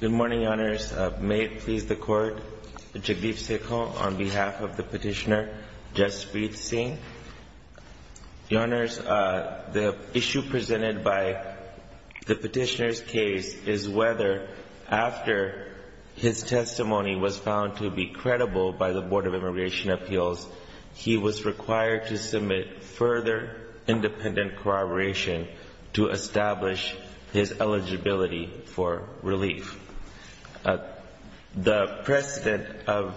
Good morning, Your Honors. May it please the Court, Jagdeep Sikhal on behalf of the petitioner Jaspreet Singh. Your Honors, the issue presented by the petitioner's case is whether, after his testimony was found to be credible by the Board of Immigration Appeals, he was required to submit further independent corroboration to establish his eligibility for relief. The precedent of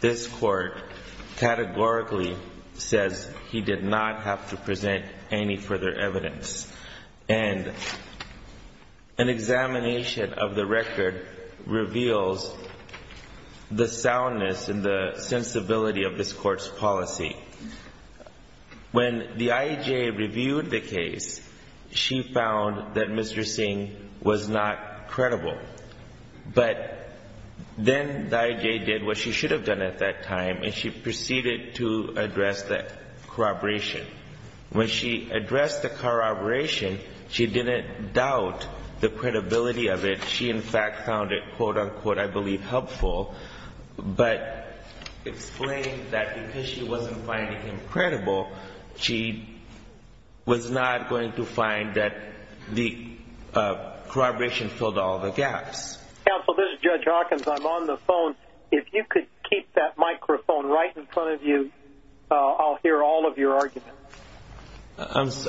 this Court categorically says he did not have to present any further evidence. And an examination of the record reveals the soundness and the sensibility of this Court's policy. When the IAJ reviewed the case, she found that Mr. Singh was not credible. But then the IAJ did what she should have done at that time, and she proceeded to address that corroboration. When she addressed the corroboration, she didn't doubt the credibility of it. She, in fact, found it, quote-unquote, I believe, helpful, but explained that because she wasn't finding him credible, she was not going to find that the corroboration filled all the gaps. Counsel, this is Judge Hawkins. I'm on the phone. If you could keep that microphone right in front of you, I'll hear all of your arguments.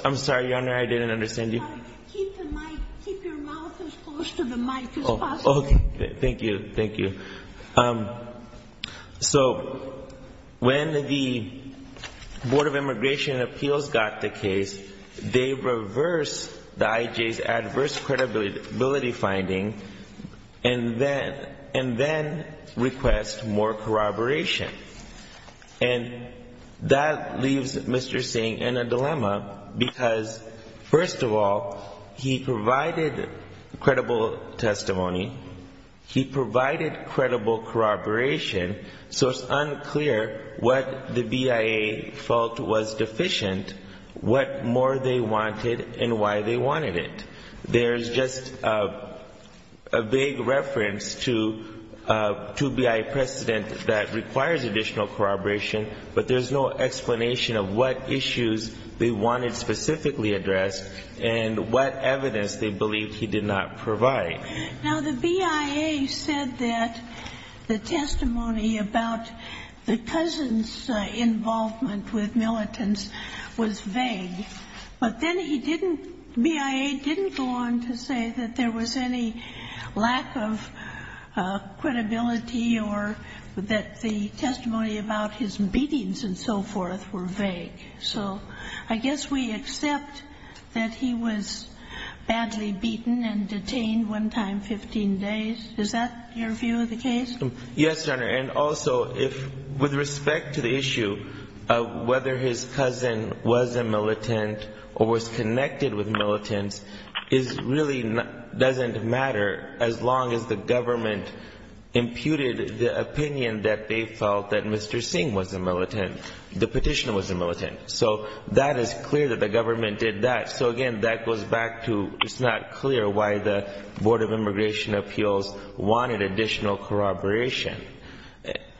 I'm sorry, Your Honor, I didn't understand you. Keep your mouth as close to the mic as possible. Okay. Thank you. Thank you. So when the Board of Immigration and Appeals got the case, they reversed the IAJ's adverse credibility finding and then request more corroboration. And that leaves Mr. Singh in a dilemma because, first of all, he provided credible testimony. He provided credible corroboration. So it's unclear what the BIA felt was deficient, what more they wanted, and why they wanted it. There's just a vague reference to BIA precedent that requires additional corroboration, but there's no explanation of what issues they wanted specifically addressed and what evidence they believed he did not provide. Now, the BIA said that the testimony about the cousin's involvement with militants was vague. But then he didn't, BIA didn't go on to say that there was any lack of credibility or that the testimony about his beatings and so forth were vague. So I guess we accept that he was badly beaten and detained one time, 15 days. Is that your view of the case? Yes, Your Honor. And also, with respect to the issue of whether his cousin was a militant or was connected with militants, it really doesn't matter as long as the government imputed the opinion that they felt that Mr. Singh was a militant, the petitioner was a militant. So that is clear that the government did that. So, again, that goes back to it's not clear why the Board of Immigration Appeals wanted additional corroboration.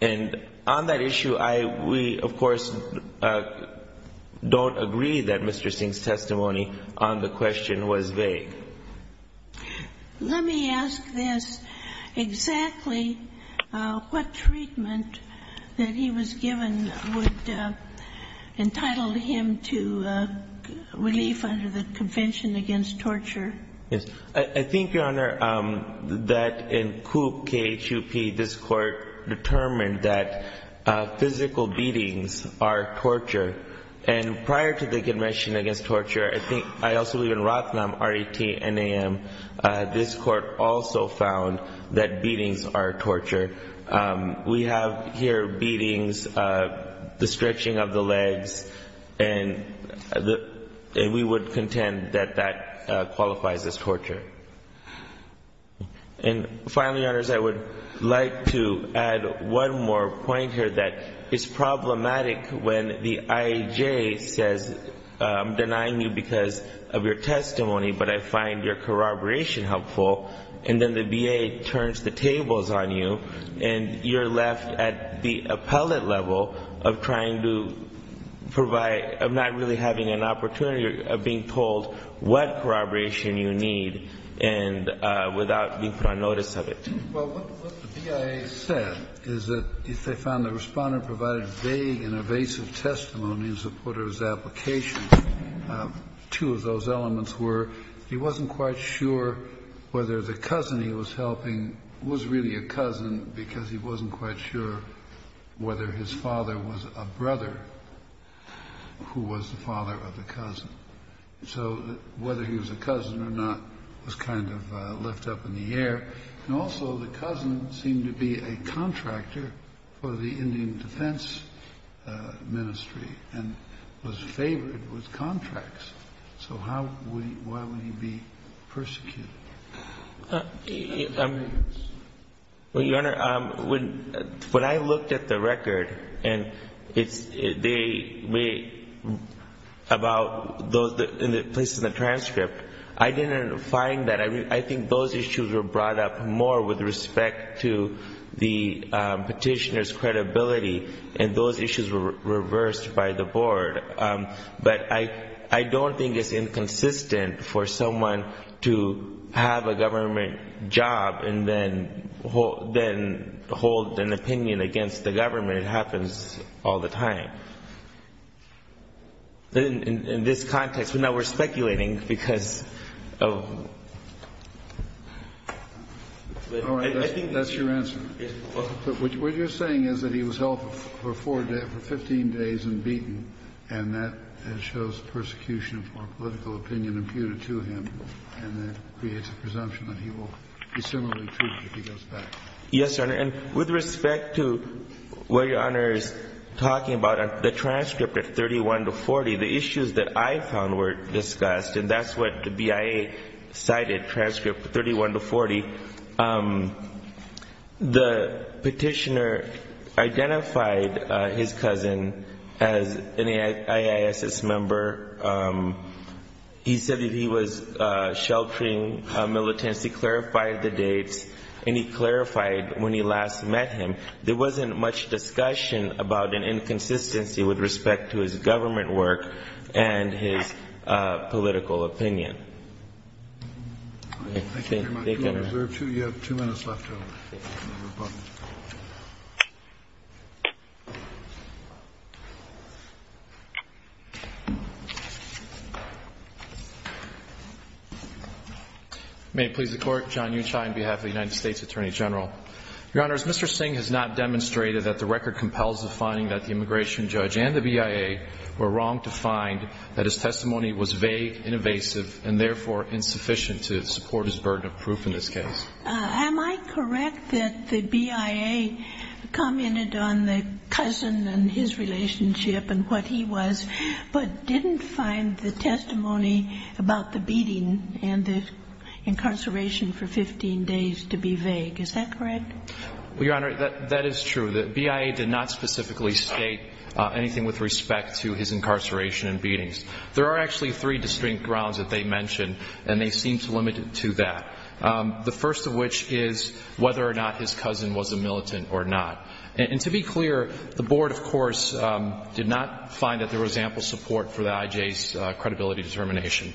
And on that issue, we, of course, don't agree that Mr. Singh's testimony on the question was vague. Let me ask this. Exactly what treatment that he was given would entitle him to relief under the Convention Against Torture? I think, Your Honor, that in COOP, K-H-U-P, this Court determined that physical beatings are torture. And prior to the Convention Against Torture, I also believe in Ratnam, R-A-T-N-A-M, this Court also found that beatings are torture. We have here beatings, the stretching of the legs, and we would contend that that qualifies as torture. And finally, Your Honors, I would like to add one more point here that is problematic when the IAJ says, I'm denying you because of your testimony, but I find your corroboration helpful, and then the VA turns the tables on you, and you're left at the appellate level of trying to provide, of not really having an opportunity of being told what corroboration you need. And without being put on notice of it. Well, what the BIA said is that they found the Responder provided vague and evasive testimonies of Porter's application. Two of those elements were he wasn't quite sure whether the cousin he was helping was really a cousin because he wasn't quite sure whether his father was a brother who was the father of the cousin. So whether he was a cousin or not was kind of left up in the air. And also the cousin seemed to be a contractor for the Indian Defense Ministry and was favored with contracts. So how would he, why would he be persecuted? Well, Your Honor, when I looked at the record, and it's, they, about those places in the transcript, I didn't find that, I think those issues were brought up more with respect to the petitioner's credibility, and those issues were reversed by the Board. But I don't think it's inconsistent for someone to have a government job and then hold an opinion against the government. It happens all the time. In this context, now we're speculating because of... All right, that's your answer. What you're saying is that he was held for 15 days and beaten, and that shows persecution for political opinion imputed to him, and that creates a presumption that he will be similarly treated if he goes back. Yes, Your Honor, and with respect to what Your Honor is talking about, the transcript at 31 to 40, the issues that I found were discussed, and that's what the BIA cited, transcript 31 to 40. The petitioner identified his cousin as an AISS member. He said that he was sheltering militants. He clarified the dates, and he clarified when he last met him. There wasn't much discussion about an inconsistency with respect to his government work and his political opinion. Thank you very much. You have two minutes left. May it please the Court. John Uchai on behalf of the United States Attorney General. Your Honors, Mr. Singh has not demonstrated that the record compels the finding that the immigration judge and the BIA were wrong to find that his testimony was vague and evasive, and therefore insufficient to support his burden of proof in this case. Am I correct that the BIA commented on the cousin and his relationship and what he was, but didn't find the testimony about the beating and the incarceration for 15 days to be vague? Is that correct? Well, Your Honor, that is true. The BIA did not specifically state anything with respect to his incarceration and beatings. There are actually three distinct grounds that they mentioned, and they seem to limit it to that. The first of which is whether or not his cousin was a militant or not. And to be clear, the Board, of course, did not find that there was ample support for the IJ's credibility determination.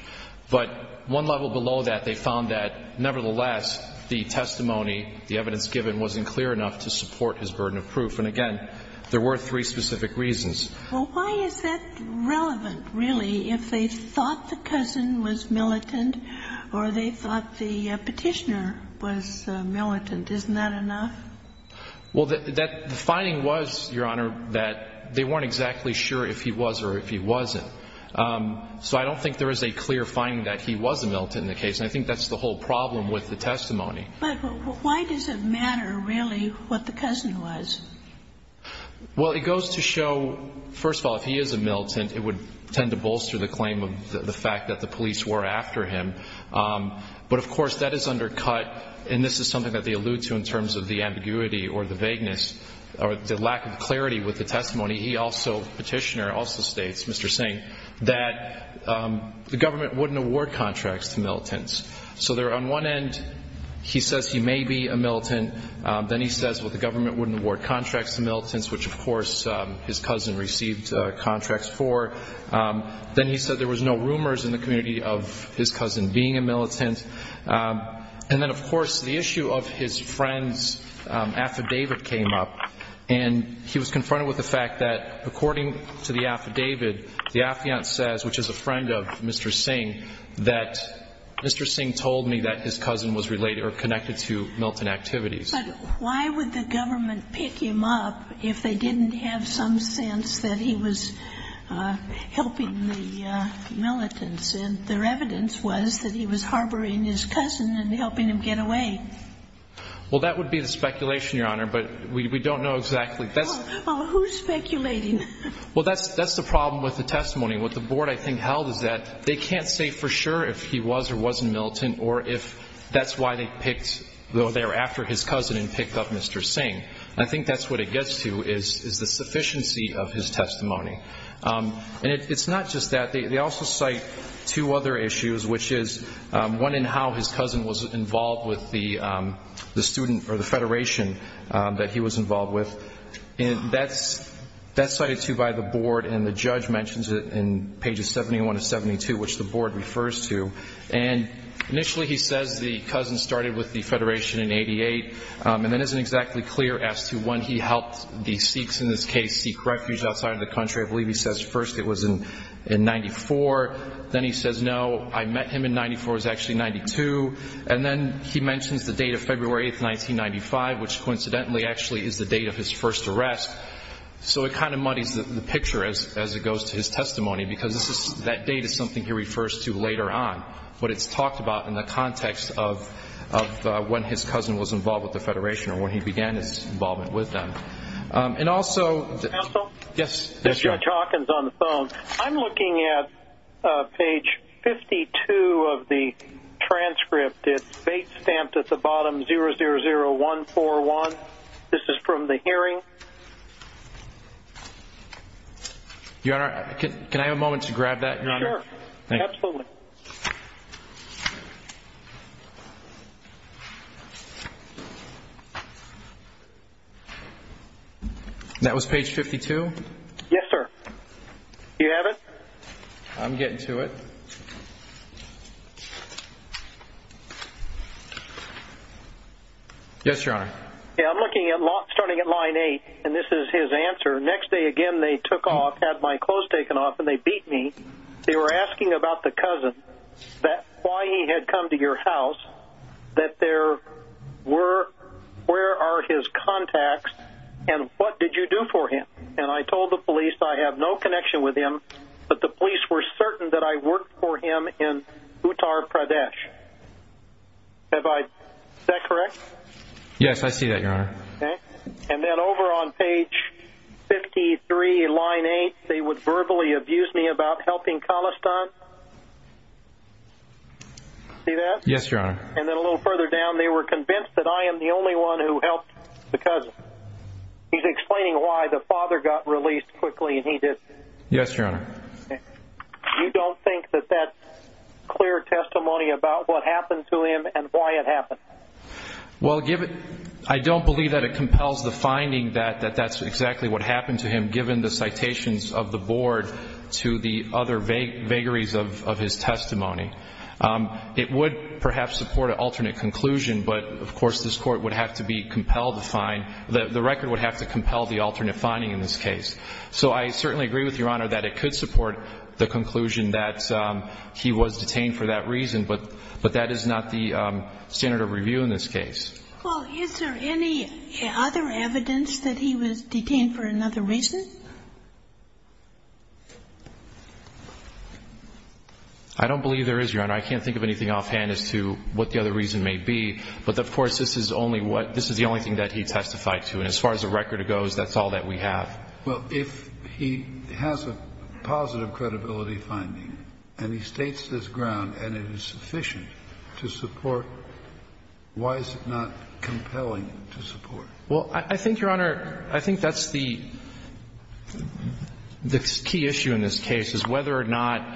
But one level below that, they found that, nevertheless, the testimony, the evidence given, wasn't clear enough to support his burden of proof. And, again, there were three specific reasons. Well, why is that relevant, really, if they thought the cousin was militant or they thought the petitioner was militant? Isn't that enough? Well, the finding was, Your Honor, that they weren't exactly sure if he was or if he wasn't. So I don't think there is a clear finding that he was a militant in the case, and I think that's the whole problem with the testimony. But why does it matter, really, what the cousin was? Well, it goes to show, first of all, if he is a militant, it would tend to bolster the claim of the fact that the police were after him. But, of course, that is undercut, and this is something that they allude to in terms of the ambiguity or the vagueness or the lack of clarity with the testimony. He also, the petitioner also states, Mr. Singh, that the government wouldn't award contracts to militants. So on one end he says he may be a militant. Then he says, well, the government wouldn't award contracts to militants, which, of course, his cousin received contracts for. Then he said there was no rumors in the community of his cousin being a militant. And then, of course, the issue of his friend's affidavit came up, and he was confronted with the fact that, according to the affidavit, the affiant says, which is a friend of Mr. Singh, that Mr. Singh told me that his cousin was related or connected to militant activities. But why would the government pick him up if they didn't have some sense that he was helping the militants? And their evidence was that he was harboring his cousin and helping him get away. Well, that would be the speculation, Your Honor, but we don't know exactly. Well, who's speculating? Well, that's the problem with the testimony. What the board, I think, held is that they can't say for sure if he was or wasn't militant or if that's why they picked, though they were after his cousin, and picked up Mr. Singh. I think that's what it gets to is the sufficiency of his testimony. And it's not just that. They also cite two other issues, which is one in how his cousin was involved with the student or the federation that he was involved with. And that's cited, too, by the board, and the judge mentions it in pages 71 to 72, which the board refers to. And initially he says the cousin started with the federation in 88, and then it isn't exactly clear as to when he helped the Sikhs in this case seek refuge outside of the country. I believe he says first it was in 94. Then he says, no, I met him in 94. It was actually 92. And then he mentions the date of February 8, 1995, which coincidentally actually is the date of his first arrest. So it kind of muddies the picture as it goes to his testimony because that date is something he refers to later on, what it's talked about in the context of when his cousin was involved with the federation or when he began his involvement with them. And also the- Counsel? Yes. Judge Hawkins on the phone. I'm looking at page 52 of the transcript. It's date stamped at the bottom, 000141. This is from the hearing. Your Honor, can I have a moment to grab that? Sure. Absolutely. That was page 52? Yes, sir. Do you have it? I'm getting to it. Yes, Your Honor. Yeah, I'm looking at starting at line 8, and this is his answer. Next day again they took off, had my clothes taken off, and they beat me. They were asking about the cousin, why he had come to your house, that there were- where are his contacts, and what did you do for him? And I told the police I have no connection with him, but the police were certain that I worked for him in Uttar Pradesh. Is that correct? Yes, I see that, Your Honor. Okay. And then over on page 53, line 8, they would verbally abuse me about helping Khalistan. See that? Yes, Your Honor. And then a little further down, they were convinced that I am the only one who helped the cousin. He's explaining why the father got released quickly and he didn't. Yes, Your Honor. You don't think that that's clear testimony about what happened to him and why it happened? Well, I don't believe that it compels the finding that that's exactly what happened to him, given the citations of the board to the other vagaries of his testimony. It would perhaps support an alternate conclusion, but, of course, this Court would have to be compelled to find, the record would have to compel the alternate finding in this case. So I certainly agree with Your Honor that it could support the conclusion that he was detained for that reason, but that is not the standard of review in this case. Well, is there any other evidence that he was detained for another reason? I don't believe there is, Your Honor. I can't think of anything offhand as to what the other reason may be. But, of course, this is the only thing that he testified to. And as far as the record goes, that's all that we have. Well, if he has a positive credibility finding and he states his ground and it is sufficient to support, why is it not compelling to support? Well, I think, Your Honor, I think that's the key issue in this case, is whether or not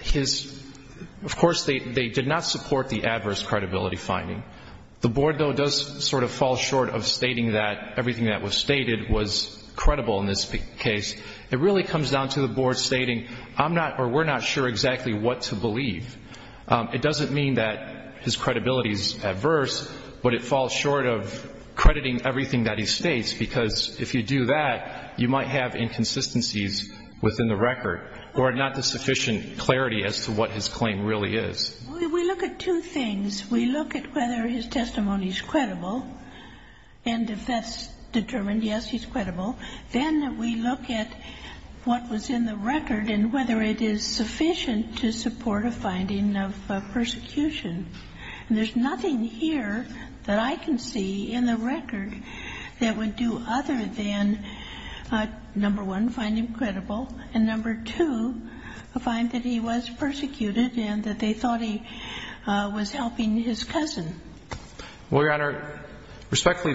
his – of course, they did not support the adverse credibility finding. The Board, though, does sort of fall short of stating that everything that was stated was credible in this case. It really comes down to the Board stating, I'm not or we're not sure exactly what to believe. It doesn't mean that his credibility is adverse, but it falls short of crediting everything that he states, because if you do that, you might have inconsistencies within the record or not the sufficient clarity as to what his claim really is. We look at two things. We look at whether his testimony is credible, and if that's determined, yes, he's credible. Then we look at what was in the record and whether it is sufficient to support a finding of persecution. And there's nothing here that I can see in the record that would do other than, number one, find him credible, and, number two, find that he was persecuted and that they thought he was helping his cousin. Well, Your Honor, respectfully,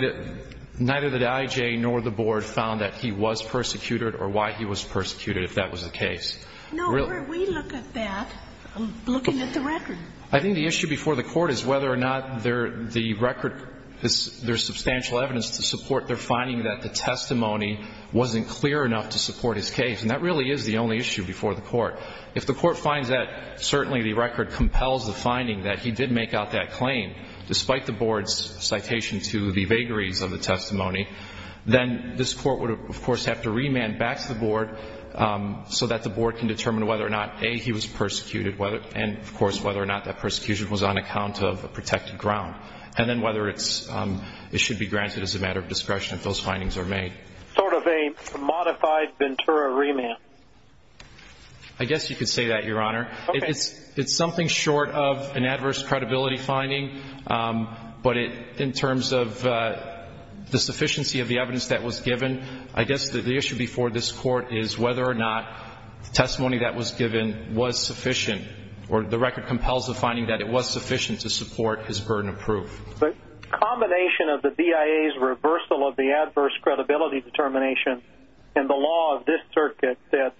neither the IJ nor the Board found that he was persecuted or why he was persecuted, if that was the case. No, we look at that, looking at the record. I think the issue before the Court is whether or not the record – there's substantial evidence to support their finding that the testimony wasn't clear enough to support his case. And that really is the only issue before the Court. If the Court finds that certainly the record compels the finding that he did make out that claim, despite the Board's citation to the vagaries of the testimony, then this Court would, of course, have to remand back to the Board so that the Board can determine whether or not, A, he was persecuted, and, of course, whether or not that persecution was on account of a protected ground, and then whether it should be granted as a matter of discretion if those findings are made. Sort of a modified Ventura remand. I guess you could say that, Your Honor. It's something short of an adverse credibility finding, but in terms of the sufficiency of the evidence that was given, I guess the issue before this Court is whether or not the testimony that was given was sufficient or the record compels the finding that it was sufficient to support his burden of proof. The combination of the BIA's reversal of the adverse credibility determination and the law of this Circuit that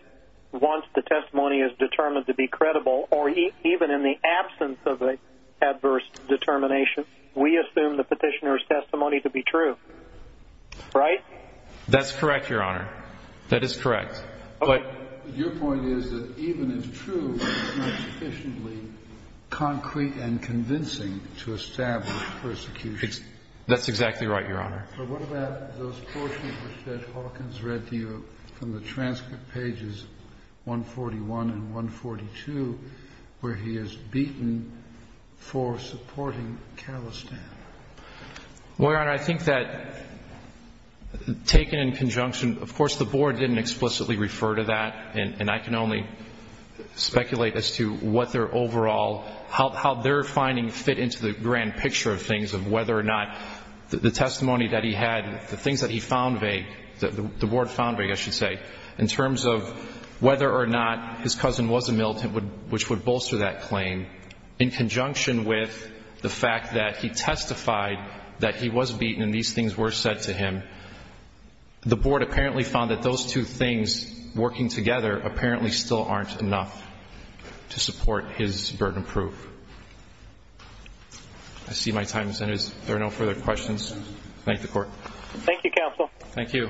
once the testimony is determined to be credible, or even in the absence of the adverse determination, we assume the petitioner's testimony to be true. Right? That's correct, Your Honor. That is correct. Your point is that even if true, it's not sufficiently concrete and convincing to establish persecution. That's exactly right, Your Honor. But what about those portions which Judge Hawkins read to you from the transcript pages 141 and 142 where he is beaten for supporting Khalistan? Well, Your Honor, I think that, taken in conjunction, of course the Board didn't explicitly refer to that, and I can only speculate as to what their overall, how their finding fit into the grand picture of things of whether or not the testimony that he had, the things that he found vague, the Board found vague, I should say, in terms of whether or not his cousin was a militant which would bolster that claim, in conjunction with the fact that he testified that he was beaten and these things were said to him. The Board apparently found that those two things working together apparently still aren't enough to support his burden proof. I see my time has ended. If there are no further questions, thank the Court. Thank you, Counsel. Thank you.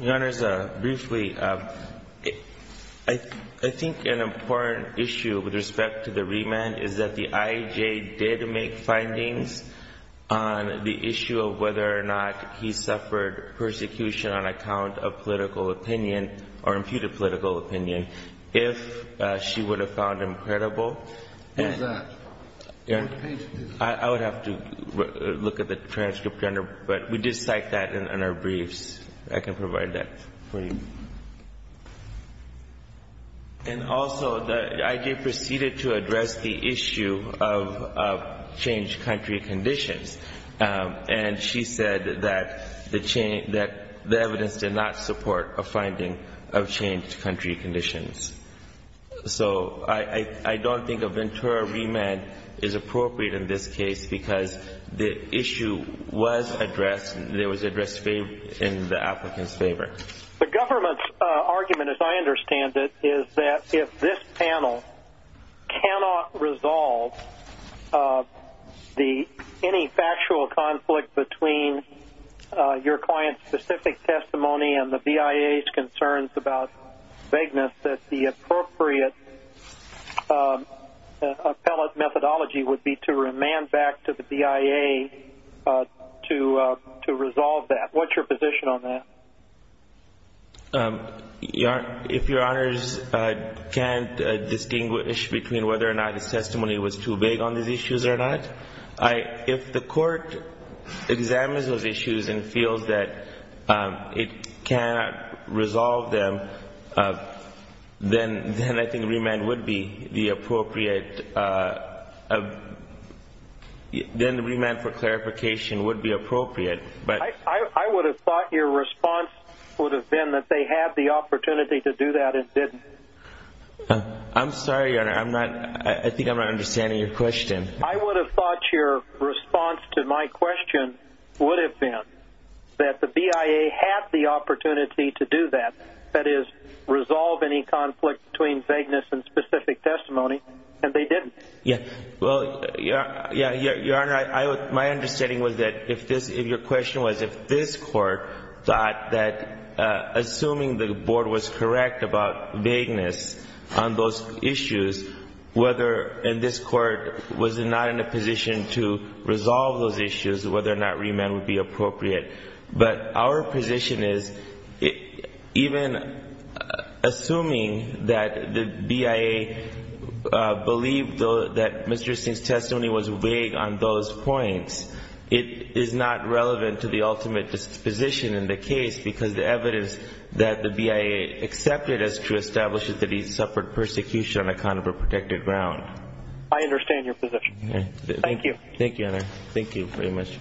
Your Honors, briefly, I think an important issue with respect to the remand is that the IJ did make findings on the issue of whether or not he suffered persecution on account of political opinion or imputed political opinion, if she would have found him credible. What is that? I would have to look at the transcript under, but we did cite that in our briefs. I can provide that for you. And also, the IJ proceeded to address the issue of changed country conditions, and she said that the evidence did not support a finding of changed country conditions. So I don't think a Ventura remand is appropriate in this case because the issue was addressed, it was addressed in the applicant's favor. The government's argument, as I understand it, is that if this panel cannot resolve any factual conflict between your client's specific testimony and the BIA's concerns about vagueness, that the appropriate appellate methodology would be to remand back to the BIA to resolve that. What's your position on that? If Your Honors can't distinguish between whether or not his testimony was too vague on these issues or not, if the court examines those issues and feels that it cannot resolve them, then I think remand would be the appropriate, then remand for clarification would be appropriate. I would have thought your response would have been that they had the opportunity to do that and didn't. I'm sorry, Your Honor, I think I'm not understanding your question. I would have thought your response to my question would have been that the BIA had the opportunity to do that, that is, resolve any conflict between vagueness and specific testimony, and they didn't. Well, Your Honor, my understanding was that if your question was if this Court thought that assuming the Board was correct about vagueness on those issues, whether this Court was not in a position to resolve those issues, whether or not remand would be appropriate. But our position is even assuming that the BIA believed that Mr. Singh's testimony was vague on those points, it is not relevant to the ultimate disposition in the case because the evidence that the BIA accepted is to establish that he suffered persecution on account of a protected ground. I understand your position. Thank you. Thank you, Your Honor. Thank you very much.